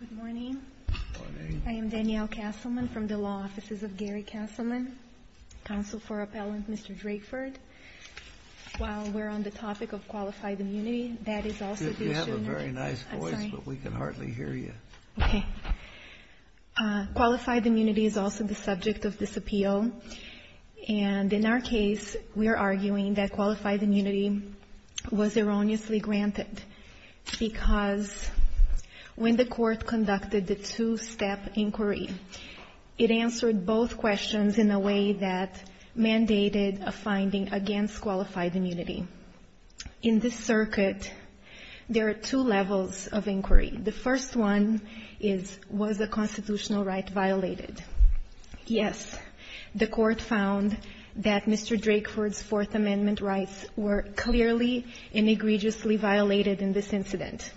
Good morning. I am Danielle Castleman from the Law Offices of Gary Castleman, Counsel for Appellant Mr. Drakeford. While we're on the topic of qualified immunity, that is also the issue... You have a very nice voice, but we can hardly hear you. Okay. Qualified immunity is also the subject of this appeal. And in our case, we are arguing that qualified immunity was erroneously granted because when the Court conducted the two-step inquiry, it answered both questions in a way that mandated a finding against qualified immunity. In this circuit, there are two levels of inquiry. The first one is, was the constitutional right violated? Yes, the Court found that Mr. Drakeford's Fourth Amendment rights were clearly and egregiously violated in this incident.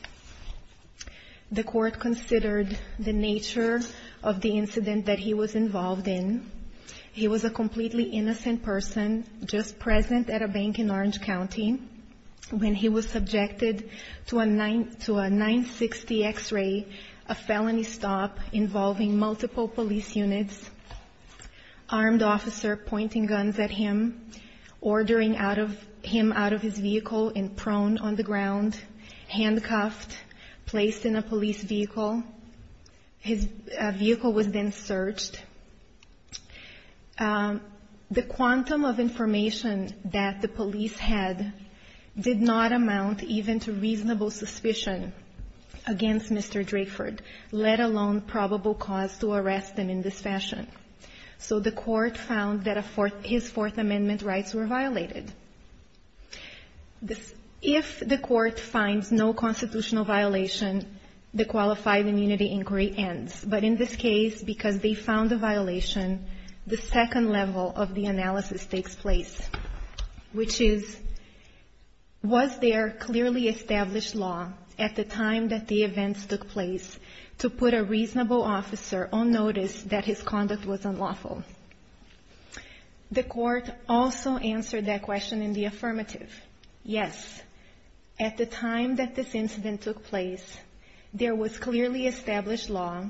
The Court considered the nature of the incident that he was involved in. He was a completely innocent person just present at a bank in Orange County when he was subjected to a 960 X-ray, a felony stop involving multiple police units, armed officer pointing guns at him, ordering him out of his vehicle and prone on the ground, handcuffed, placed in a police vehicle. His vehicle was then searched. The quantum of information that the police had did not amount even to reasonable suspicion against Mr. Drakeford, let alone probable cause to arrest him in this fashion. So the Court found that his Fourth Amendment rights were violated. If the Court finds no constitutional violation, the qualified immunity inquiry ends. But in this case, because they found a violation, the second level of the analysis takes place, which is, was there clearly established law at the time that the events took place to put a reasonable officer on notice that his conduct was unlawful? The Court also answered that question in the affirmative. Yes, at the time that this incident took place, there was clearly established law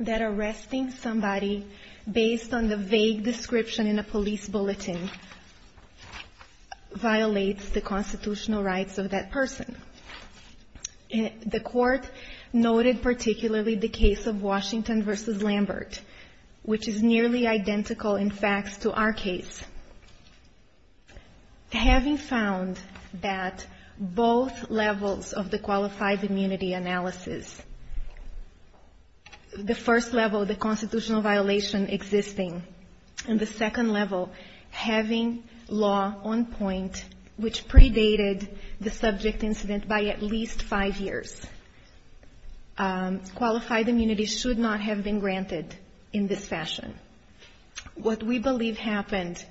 that arresting somebody based on the vague description in a police bulletin violates the constitutional rights of that person. The Court noted particularly the case of Washington v. Lambert, which is nearly identical in fact to our case. Having found that both levels of the qualified immunity analysis, the first level, the constitutional violation existing, and the second level, having law on point which predated the subject incident by at least five years, qualified immunity should not have been granted in this fashion. What we believe happened,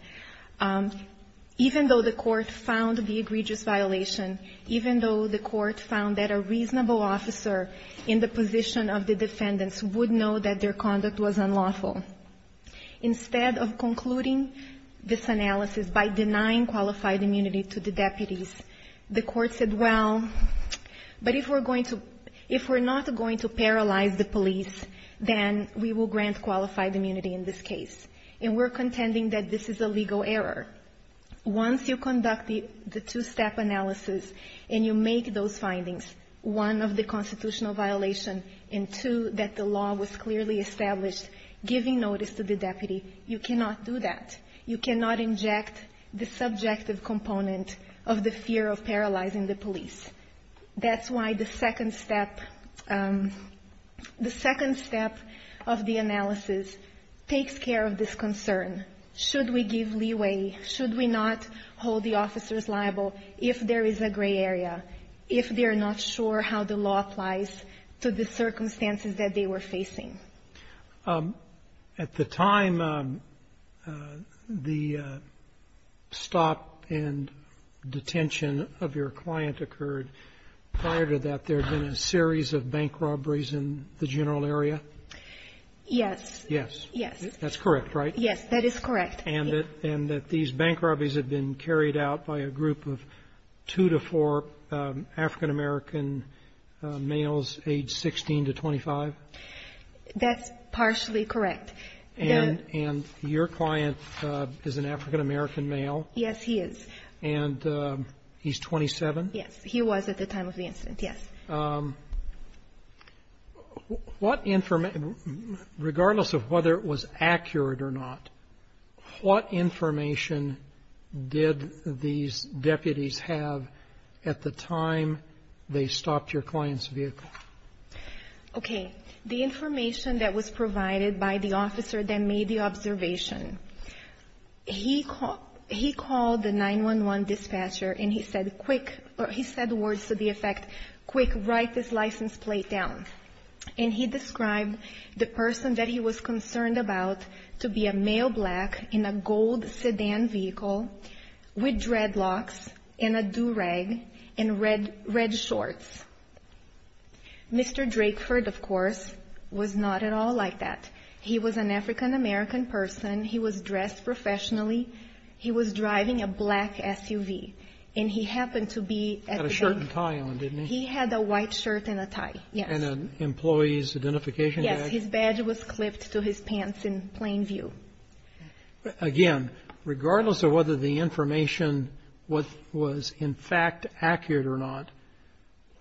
even though the Court found the egregious violation, even though the Court found that a reasonable officer in the position of the defendants would know that their conduct was unlawful, instead of concluding this analysis by denying qualified immunity to the deputies, the Court said, well, but if we're not going to paralyze the police, then we will grant qualified immunity in this case, and we're contending that this is a legal error. Once you conduct the two-step analysis and you make those findings, one, of the constitutional violation, and two, that the law was clearly established giving notice to the deputy, you cannot do that. You cannot inject the subjective component of the fear of paralyzing the police. That's why the second step of the analysis takes care of this concern. Should we give leeway? Should we not hold the officers liable if there is a gray area, if they're not sure how the law applies to the circumstances that they were facing? At the time the stop and detention of your client occurred, prior to that, there had been a series of bank robberies in the general area? Yes. Yes. Yes. That's correct, right? Yes, that is correct. And that these bank robberies had been carried out by a group of two to four African American males, age 16 to 25? That's partially correct. And your client is an African American male? Yes, he is. And he's 27? Yes. He was at the time of the incident, yes. What information, regardless of whether it was accurate or not, what information did these deputies have at the time they stopped your client's vehicle? Okay. The information that was provided by the officer that made the observation. He called the 911 dispatcher and he said words to the effect, quick, write this license plate down. And he described the person that he was concerned about to be a male black in a gold sedan vehicle with dreadlocks and a do-rag and red shorts. Mr. Drakeford, of course, was not at all like that. He was an African American person. He was dressed professionally. He was driving a black SUV. And he happened to be at the bank. Had a shirt and tie on, didn't he? He had a white shirt and a tie, yes. And an employee's identification badge. Yes, his badge was clipped to his pants in plain view. Again, regardless of whether the information was in fact accurate or not,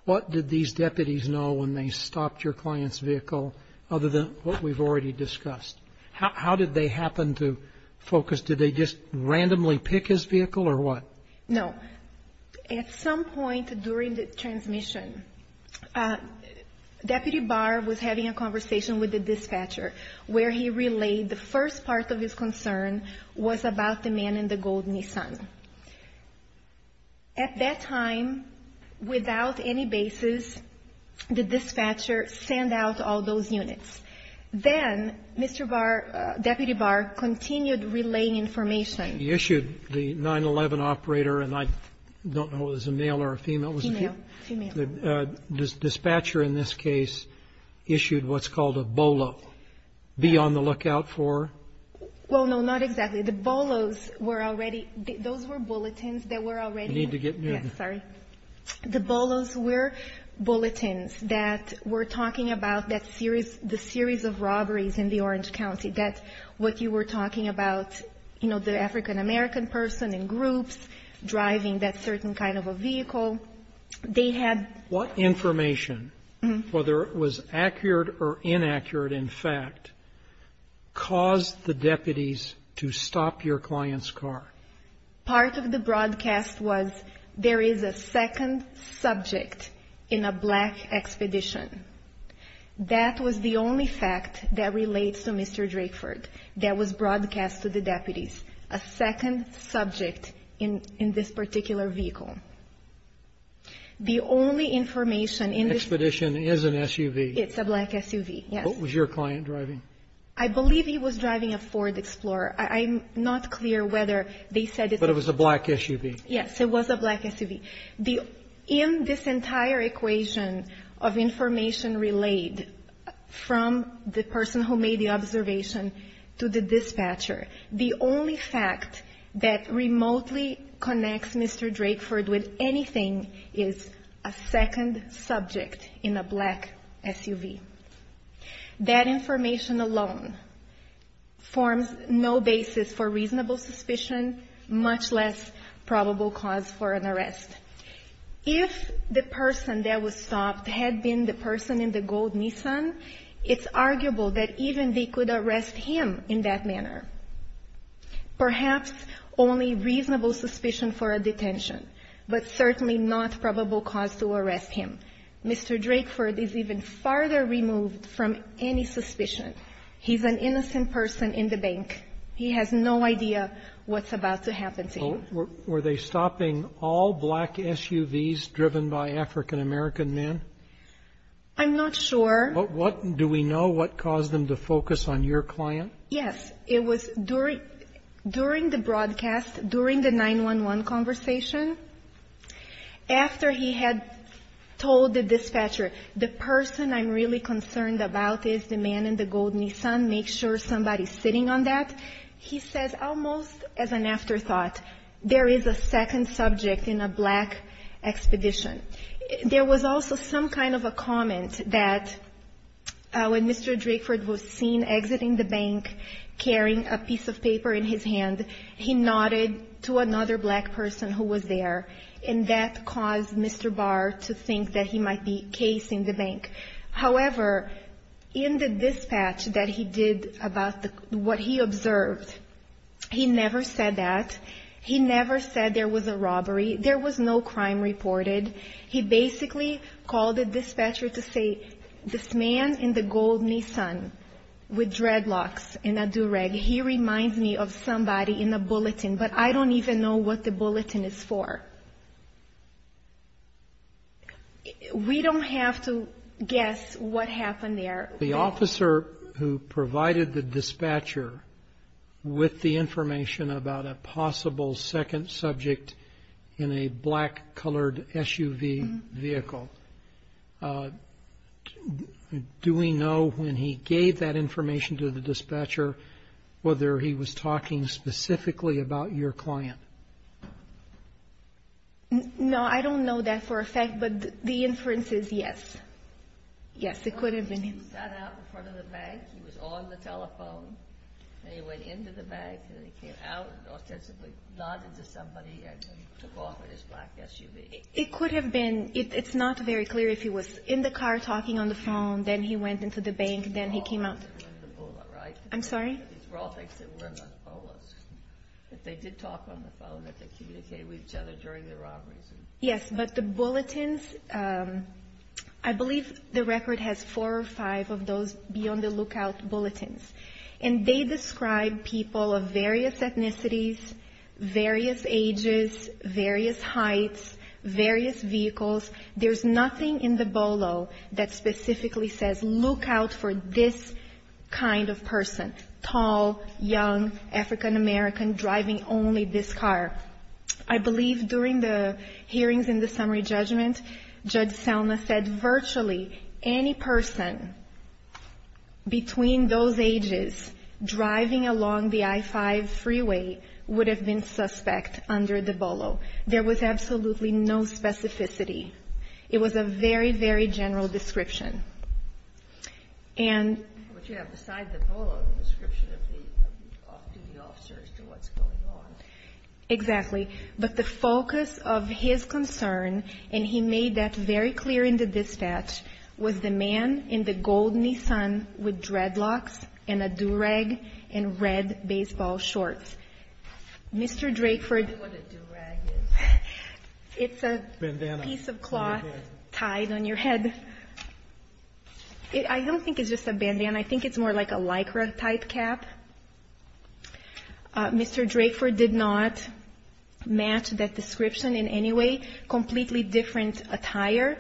what did these deputies know when they stopped your client's vehicle other than what we've already discussed? How did they happen to focus? Did they just randomly pick his vehicle or what? No. At some point during the transmission, Deputy Barr was having a conversation with the dispatcher where he relayed the first part of his concern was about the man in the gold Nissan. At that time, without any basis, the dispatcher sent out all those units. Then Mr. Barr, Deputy Barr, continued relaying information. He issued the 911 operator, and I don't know if it was a male or a female. Female. The dispatcher in this case issued what's called a BOLO, be on the lookout for. Well, no, not exactly. The BOLOs were already, those were bulletins that were already. You need to get near the. Yes, sorry. The BOLOs were bulletins that were talking about the series of robberies in the Orange County. That's what you were talking about, you know, the African-American person in groups driving that certain kind of a vehicle. They had. What information, whether it was accurate or inaccurate, in fact, caused the deputies to stop your client's car? Part of the broadcast was there is a second subject in a black expedition. That was the only fact that relates to Mr. Drakeford that was broadcast to the deputies. A second subject in this particular vehicle. The only information. Expedition is an SUV. It's a black SUV, yes. What was your client driving? I believe he was driving a Ford Explorer. I'm not clear whether they said. But it was a black SUV. Yes, it was a black SUV. In this entire equation of information relayed from the person who made the observation to the dispatcher, the only fact that remotely connects Mr. Drakeford with anything is a second subject in a black SUV. That information alone forms no basis for reasonable suspicion, much less probable cause for an arrest. If the person that was stopped had been the person in the gold Nissan, it's arguable that even they could arrest him in that manner. Perhaps only reasonable suspicion for a detention, but certainly not probable cause to arrest him. Mr. Drakeford is even farther removed from any suspicion. He's an innocent person in the bank. He has no idea what's about to happen to him. Were they stopping all black SUVs driven by African-American men? I'm not sure. Do we know what caused them to focus on your client? Yes, it was during the broadcast, during the 911 conversation. After he had told the dispatcher, the person I'm really concerned about is the man in the gold Nissan. Make sure somebody's sitting on that. He says, almost as an afterthought, there is a second subject in a black expedition. There was also some kind of a comment that when Mr. Drakeford was seen exiting the bank, carrying a piece of paper in his hand, he nodded to another black person who was there. And that caused Mr. Barr to think that he might be casing the bank. However, in the dispatch that he did about what he observed, he never said that. He never said there was a robbery. There was no crime reported. He basically called the dispatcher to say, this man in the gold Nissan with dreadlocks and a do-rag, he reminds me of somebody in a bulletin, but I don't even know what the bulletin is for. We don't have to guess what happened there. The officer who provided the dispatcher with the information about a possible second subject in a black-colored SUV vehicle, do we know when he gave that information to the dispatcher whether he was talking specifically about your client? No, I don't know that for a fact, but the inference is yes. Yes, it could have been him. He sat out in front of the bank. He was on the telephone. He went into the bank, and he came out and authentically nodded to somebody, and he took off in his black SUV. It could have been. It's not very clear. If he was in the car talking on the phone, then he went into the bank, then he came out. These were all things that were in the bullet, right? I'm sorry? These were all things that were in the bullets. But they did talk on the phone. They communicated with each other during the robberies. Yes, but the bulletins, I believe the record has four or five of those beyond-the-lookout bulletins. And they describe people of various ethnicities, various ages, various heights, various vehicles. There's nothing in the BOLO that specifically says look out for this kind of person, tall, young, African-American, driving only this car. I believe during the hearings in the summary judgment, Judge Selma said virtually any person between those ages driving along the I-5 freeway would have been suspect under the BOLO. There was absolutely no specificity. It was a very, very general description. What you have beside the BOLO is a description of the off-duty officers to what's going on. Exactly. But the focus of his concern, and he made that very clear in the dispatch, was the man in the gold Nissan with dreadlocks and a do-rag and red baseball shorts. Mr. Drakeford. I know what a do-rag is. It's a piece of cloth tied on your head. I don't think it's just a bandana. I think it's more like a Lycra type cap. Mr. Drakeford did not match that description in any way. Completely different attire,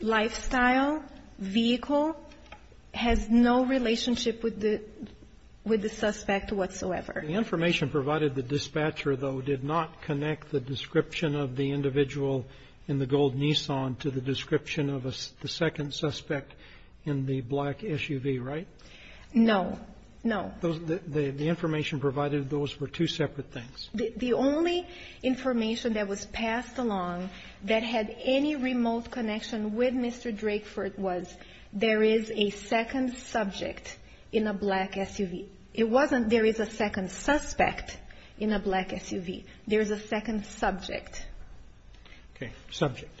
lifestyle, vehicle, has no relationship with the suspect whatsoever. The information provided the dispatcher, though, did not connect the description of the individual in the gold Nissan to the description of the second suspect in the black SUV, right? No, no. The information provided, those were two separate things. The only information that was passed along that had any remote connection with Mr. Drakeford was there is a second subject in a black SUV. There is a second suspect in a black SUV. There is a second subject. Okay, subject.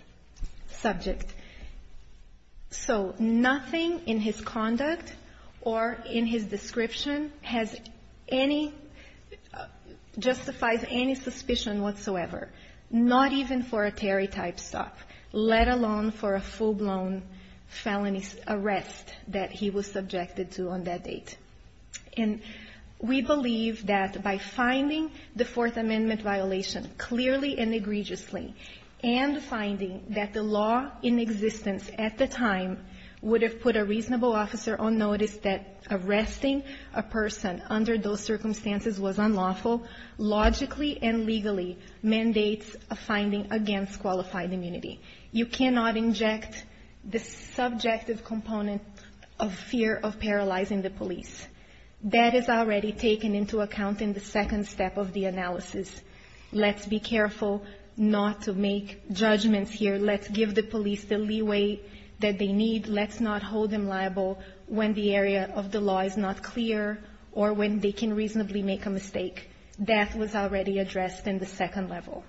Subject. So nothing in his conduct or in his description justifies any suspicion whatsoever, not even for a Terry type stuff, let alone for a full-blown felony arrest that he was subjected to on that date. And we believe that by finding the Fourth Amendment violation clearly and egregiously and finding that the law in existence at the time would have put a reasonable officer on notice that arresting a person under those circumstances was unlawful, logically and legally mandates a finding against qualified immunity. You cannot inject the subjective component of fear of paralyzing the police. That is already taken into account in the second step of the analysis. Let's be careful not to make judgments here. Let's give the police the leeway that they need. Let's not hold them liable when the area of the law is not clear or when they can reasonably make a mistake. That was already addressed in the second level.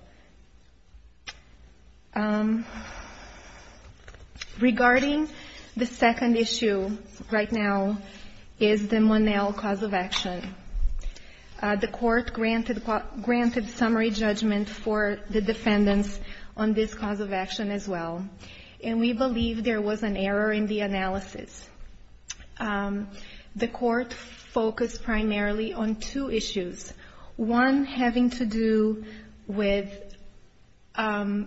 Regarding the second issue right now is the Monell cause of action. The court granted summary judgment for the defendants on this cause of action as well, and we believe there was an error in the analysis. The court focused primarily on two issues, one having to do with a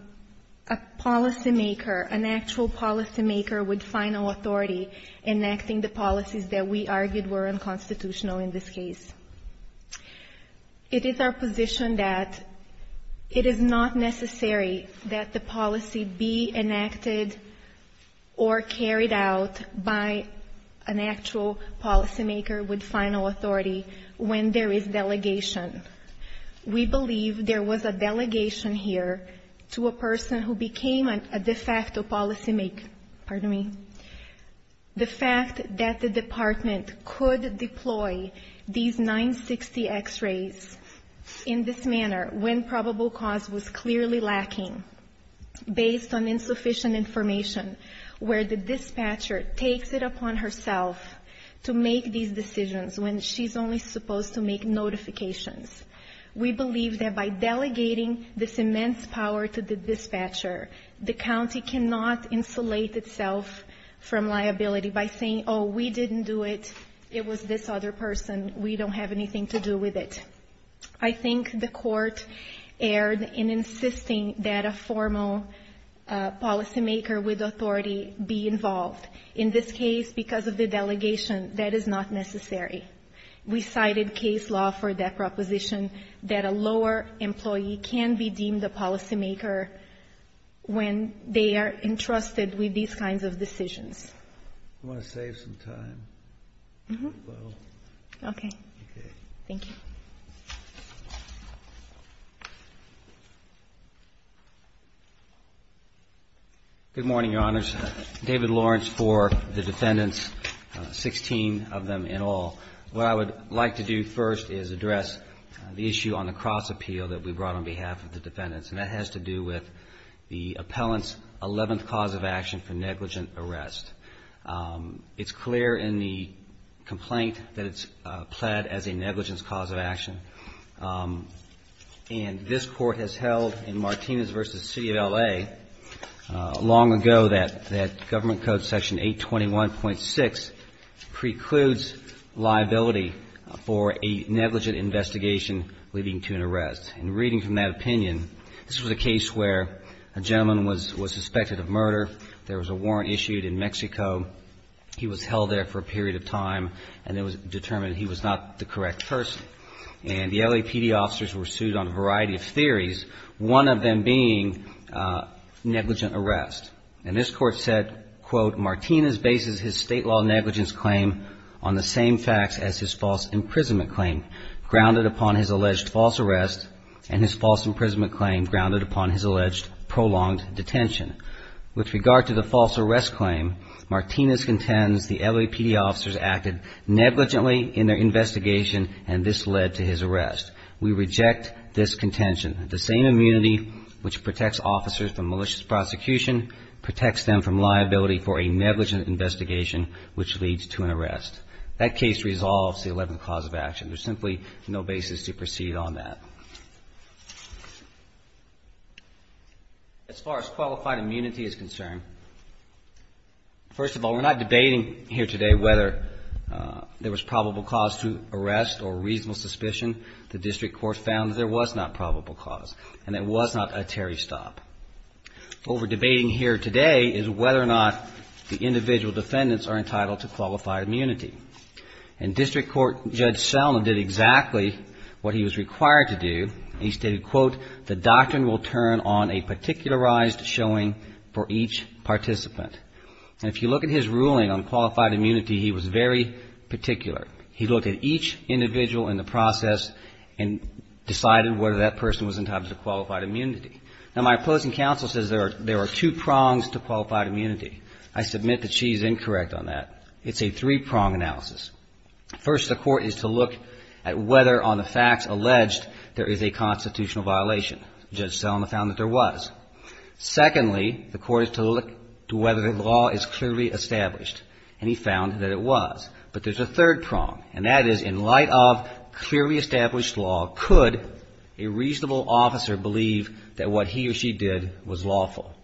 policymaker, an actual policymaker with final authority enacting the policies that we argued were unconstitutional in this case. It is our position that it is not necessary that the policy be enacted or carried out by an actual policymaker with final authority when there is delegation. We believe there was a delegation here to a person who became a de facto policymaker. Pardon me. The fact that the department could deploy these 960 x-rays in this manner when probable cause was clearly lacking based on insufficient information where the dispatcher takes it upon herself to make these decisions when she's only supposed to make notifications. We believe that by delegating this immense power to the dispatcher, the county cannot insulate itself from liability by saying, oh, we didn't do it, it was this other person, we don't have anything to do with it. I think the court erred in insisting that a formal policymaker with authority be involved. In this case, because of the delegation, that is not necessary. We cited case law for that proposition that a lower employee can be deemed a policymaker when they are entrusted with these kinds of decisions. I want to save some time. Okay. Thank you. Good morning, Your Honors. David Lawrence for the defendants, 16 of them in all. What I would like to do first is address the issue on the cross appeal that we brought on behalf of the defendants, and that has to do with the appellant's 11th cause of action for negligent arrest. It's clear in the complaint that it's pled as a negligence cause of action, and this court has held in Martinez v. City of L.A. long ago that Government Code Section 821.6 precludes liability for a negligent investigation leading to an arrest. In reading from that opinion, this was a case where a gentleman was suspected of murder, there was a warrant issued in Mexico, he was held there for a period of time, and it was determined he was not the correct person, and the LAPD officers were sued on a variety of theories, one of them being negligent arrest. And this court said, quote, Martinez bases his state law negligence claim on the same facts as his false imprisonment claim, grounded upon his alleged false arrest, and his false imprisonment claim grounded upon his alleged prolonged detention. With regard to the false arrest claim, Martinez contends the LAPD officers acted negligently in their investigation, and this led to his arrest. We reject this contention. The same immunity which protects officers from malicious prosecution protects them from liability for a negligent investigation which leads to an arrest. That case resolves the 11th cause of action. There's simply no basis to proceed on that. As far as qualified immunity is concerned, first of all, we're not debating here today whether there was probable cause to arrest or reasonable suspicion. The district court found there was not probable cause, and it was not a Terry stop. What we're debating here today is whether or not the individual defendants are entitled to qualified immunity. And district court Judge Sellman did exactly what he was required to do, and he stated, quote, the doctrine will turn on a particularized showing for each participant. And if you look at his ruling on qualified immunity, he was very particular. He looked at each individual in the process and decided whether that person was entitled to qualified immunity. Now, my opposing counsel says there are two prongs to qualified immunity. I submit that she is incorrect on that. It's a three-prong analysis. First, the court is to look at whether on the facts alleged there is a constitutional violation. Judge Sellman found that there was. Secondly, the court is to look to whether the law is clearly established, and he found that it was. But there's a third prong, and that is in light of clearly established law, could a reasonable officer believe that what he or she did was lawful?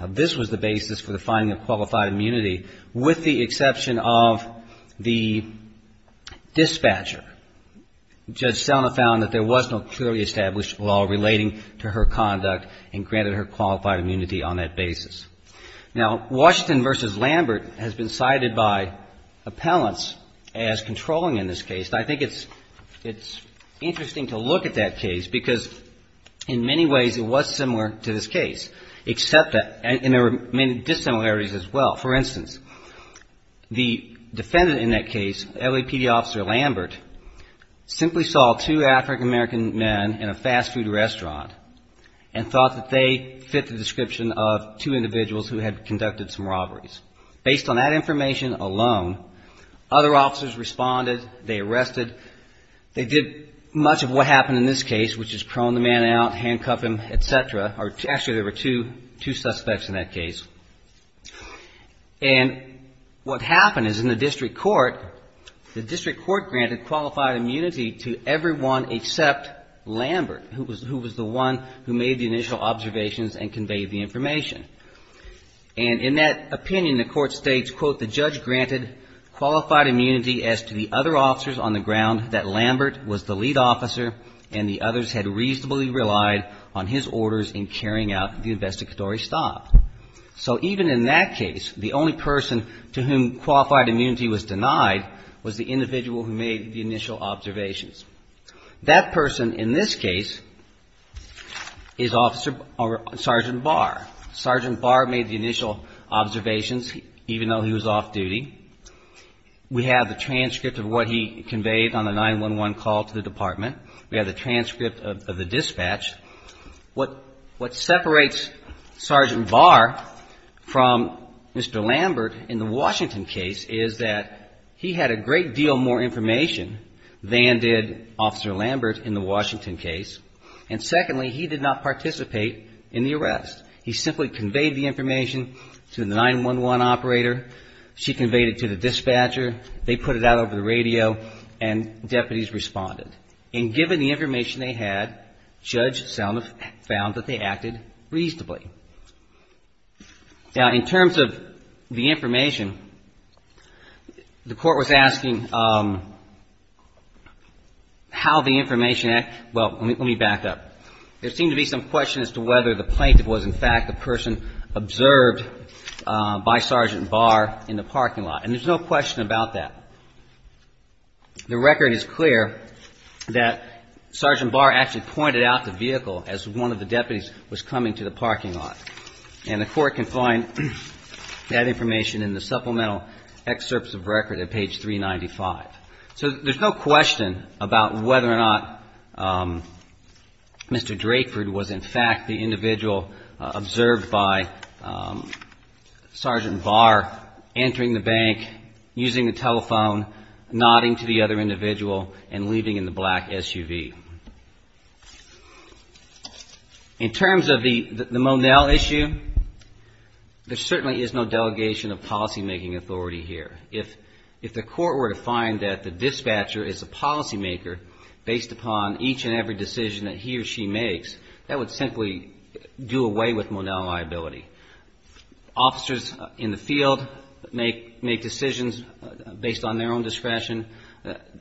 Now, this was the basis for the finding of qualified immunity, with the exception of the dispatcher. Judge Sellman found that there was no clearly established law relating to her conduct and granted her qualified immunity on that basis. Now, Washington v. Lambert has been cited by appellants as controlling in this case, and I think it's interesting to look at that case because in many ways it was similar to this case, except that there were many dissimilarities as well. For instance, the defendant in that case, LAPD Officer Lambert, simply saw two African-American men in a fast food restaurant and thought that they fit the description of two individuals who had conducted some robberies. Based on that information alone, other officers responded, they arrested, they did much of what happened in this case, which is prone the man out, handcuff him, et cetera. Actually, there were two suspects in that case. And what happened is in the district court, the district court granted qualified immunity to everyone except Lambert, who was the one who made the initial observations and conveyed the information. And in that opinion, the court states, quote, the judge granted qualified immunity as to the other officers on the ground that Lambert was the lead officer and the others had reasonably relied on his orders in carrying out the investigatory stop. So even in that case, the only person to whom qualified immunity was denied was the individual who made the initial observations. That person in this case is Officer Sergeant Barr. Sergeant Barr made the initial observations, even though he was off duty. We have the transcript of what he conveyed on the 911 call to the department. We have the transcript of the dispatch. What separates Sergeant Barr from Mr. Lambert in the Washington case is that he had a great deal more information than did Officer Lambert in the Washington case. And secondly, he did not participate in the arrest. He simply conveyed the information to the 911 operator. She conveyed it to the dispatcher. They put it out over the radio, and deputies responded. And given the information they had, Judge Salma found that they acted reasonably. Now, in terms of the information, the court was asking how the information acted. Well, let me back up. There seemed to be some question as to whether the plaintiff was, in fact, the person observed by Sergeant Barr in the parking lot. And there's no question about that. The record is clear that Sergeant Barr actually pointed out the vehicle as one of the deputies was coming to the parking lot. And the court can find that information in the supplemental excerpts of record at page 395. So there's no question about whether or not Mr. Drakeford was, in fact, the individual observed by Sergeant Barr entering the bank, using the telephone, nodding to the other individual, and leaving in the black SUV. In terms of the Monell issue, there certainly is no delegation of policymaking authority here. If the court were to find that the dispatcher is a policymaker based upon each and every decision that he or she makes, that would simply do away with Monell liability. Officers in the field make decisions based on their own discretion.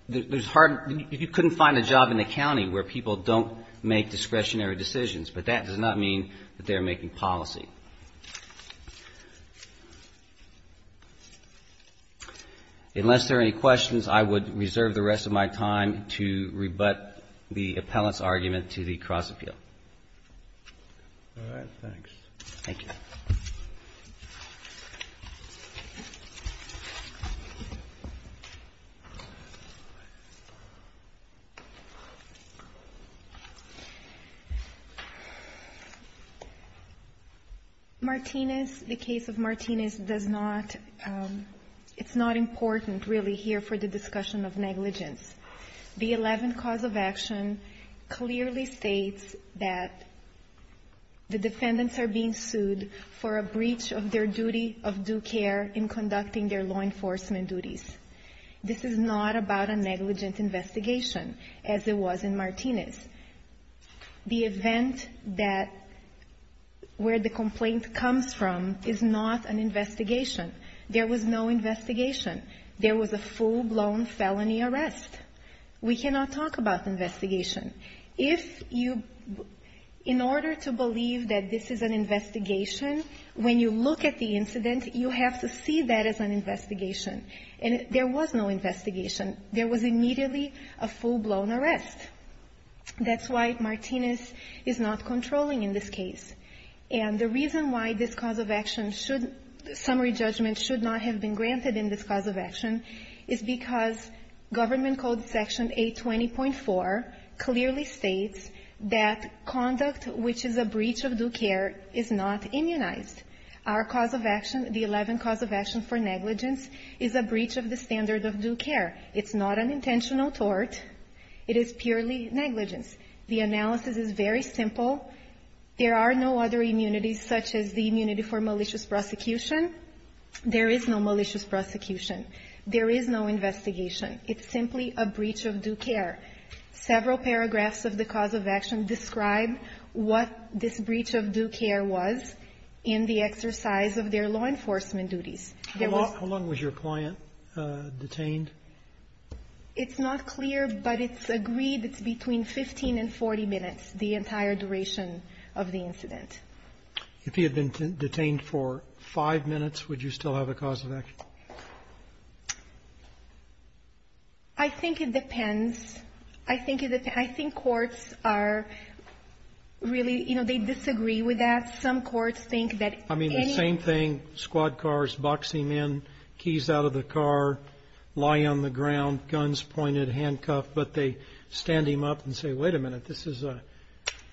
You couldn't find a job in the county where people don't make discretionary decisions, but that does not mean that they're making policy. Unless there are any questions, I would reserve the rest of my time to rebut the appellant's argument to the cross-appeal. Thank you. Martinez, the case of Martinez, does not, it's not important really here for the discussion of negligence. The 11 cause of action clearly states that the defendants are being sued for a breach of confidentiality. A breach of their duty of due care in conducting their law enforcement duties. This is not about a negligent investigation, as it was in Martinez. The event that, where the complaint comes from is not an investigation. There was no investigation. There was a full-blown felony arrest. We cannot talk about investigation. If you, in order to believe that this is an investigation, when you look at the incident, you have to see that as an investigation. And there was no investigation. There was immediately a full-blown arrest. That's why Martinez is not controlling in this case. And the reason why this cause of action should, summary judgment should not have been granted in this cause of action is because government code section 820.4 clearly states that conduct which is a breach of due care is not immunized. Our cause of action, the 11 cause of action for negligence, is a breach of the standard of due care. It's not an intentional tort. It is purely negligence. The analysis is very simple. There are no other immunities such as the immunity for malicious prosecution. There is no malicious prosecution. There is no investigation. It's simply a breach of due care. Several paragraphs of the cause of action describe what this breach of due care was in the exercise of their law enforcement duties. How long was your client detained? It's not clear, but it's agreed it's between 15 and 40 minutes, the entire duration of the incident. If he had been detained for five minutes, would you still have a cause of action? I think it depends. I think it depends. I think courts are really, you know, they disagree with that. I mean, the same thing, squad cars, boxing men, keys out of the car, lie on the ground, guns pointed, handcuffed, but they stand him up and say, wait a minute, this is a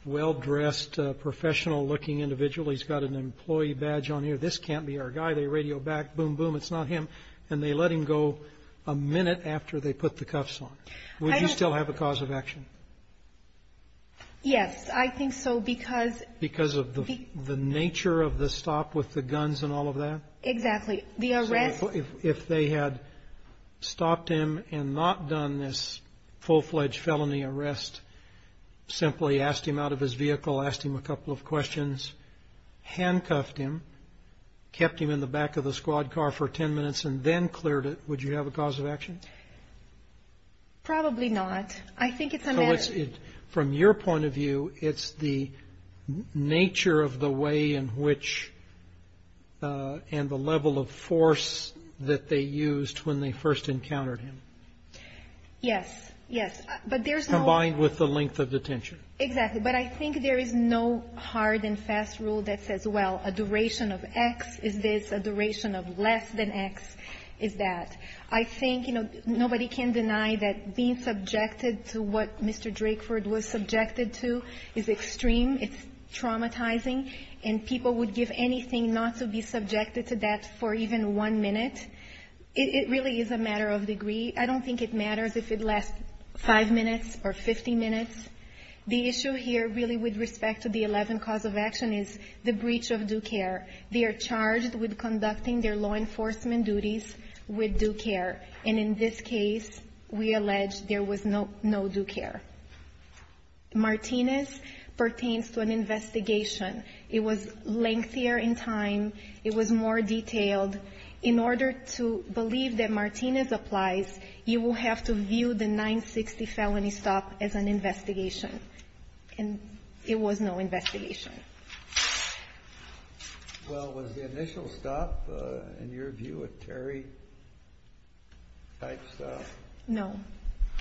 well-dressed, professional-looking individual. He's got an employee badge on here. This can't be our guy. They radio back, boom, boom, it's not him. And they let him go a minute after they put the cuffs on him. Would you still have a cause of action? Yes. I think so because of the nature of the stop with the guns and all of that. Exactly. The arrest. If they had stopped him and not done this full-fledged felony arrest, simply asked him out of his vehicle, asked him a couple of questions, handcuffed him, kept him in the back of the squad car for 10 minutes, and then cleared it, would you have a cause of action? Probably not. I think it's a matter of. From your point of view, it's the nature of the way in which and the level of force that they used when they first encountered him. Yes. Yes. But there's no. Combined with the length of detention. Exactly. But I think there is no hard and fast rule that says, well, a duration of X is this, a duration of less than X is that. I think nobody can deny that being subjected to what Mr. Drakeford was subjected to is extreme, it's traumatizing, and people would give anything not to be subjected to that for even one minute. It really is a matter of degree. I don't think it matters if it lasts five minutes or 50 minutes. The issue here really with respect to the 11 cause of action is the breach of due care. They are charged with conducting their law enforcement duties with due care. And in this case, we allege there was no due care. Martinez pertains to an investigation. It was lengthier in time. It was more detailed. In order to believe that Martinez applies, you will have to view the 960 felony stop as an investigation. And it was no investigation. Well, was the initial stop, in your view, a Terry-type stop? No,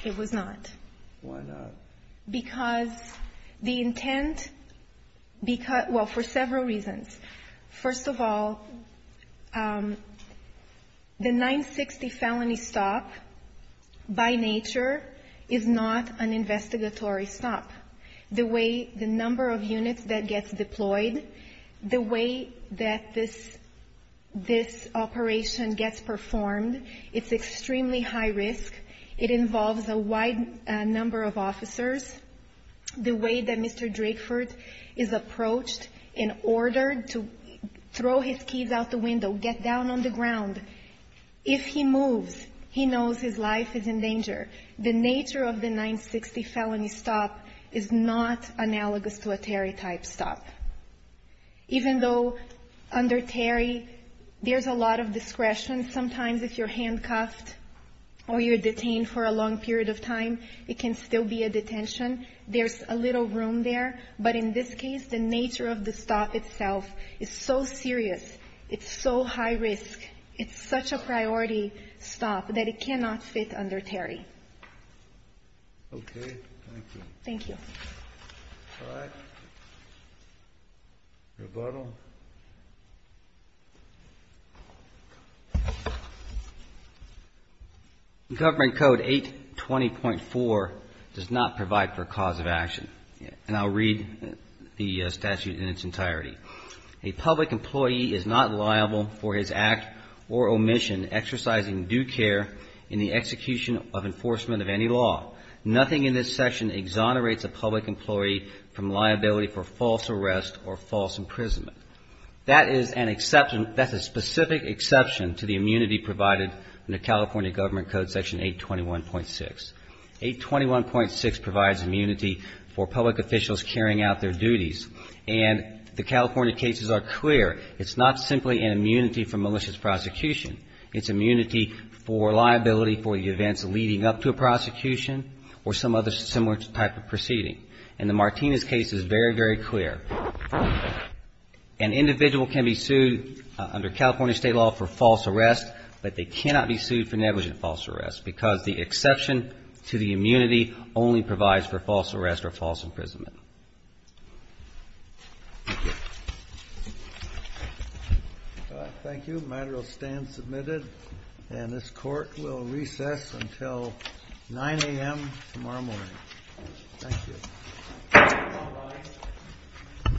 it was not. Why not? Because the intent, well, for several reasons. First of all, the 960 felony stop, by nature, is not an investigatory stop. The way the number of units that gets deployed, the way that this operation gets performed, it's extremely high risk. The way that Mr. Drakeford is approached in order to throw his keys out the window, get down on the ground. If he moves, he knows his life is in danger. The nature of the 960 felony stop is not analogous to a Terry-type stop. Even though under Terry, there's a lot of discretion. Sometimes if you're handcuffed or you're detained for a long period of time, it can still be a detention. There's a little room there. But in this case, the nature of the stop itself is so serious. It's so high risk. It's such a priority stop that it cannot fit under Terry. Okay. Thank you. Thank you. All right. Rebuttal. Government Code 820.4 does not provide for a cause of action. And I'll read the statute in its entirety. A public employee is not liable for his act or omission exercising due care in the execution of enforcement of any law. Nothing in this section exonerates a public employee from liability for false arrest or false imprisonment. That is a specific exception to the immunity provided in the California Government Code Section 821.6. 821.6 provides immunity for public officials carrying out their duties. And the California cases are clear. It's not simply an immunity for malicious prosecution. It's immunity for liability for the events leading up to a prosecution or some other similar type of proceeding. And the Martinez case is very, very clear. An individual can be sued under California state law for false arrest, but they cannot be sued for negligent false arrest because the exception to the immunity only provides for false arrest or false imprisonment. Thank you. Thank you. The matter will stand submitted, and this Court will recess until 9 a.m. tomorrow morning. Thank you.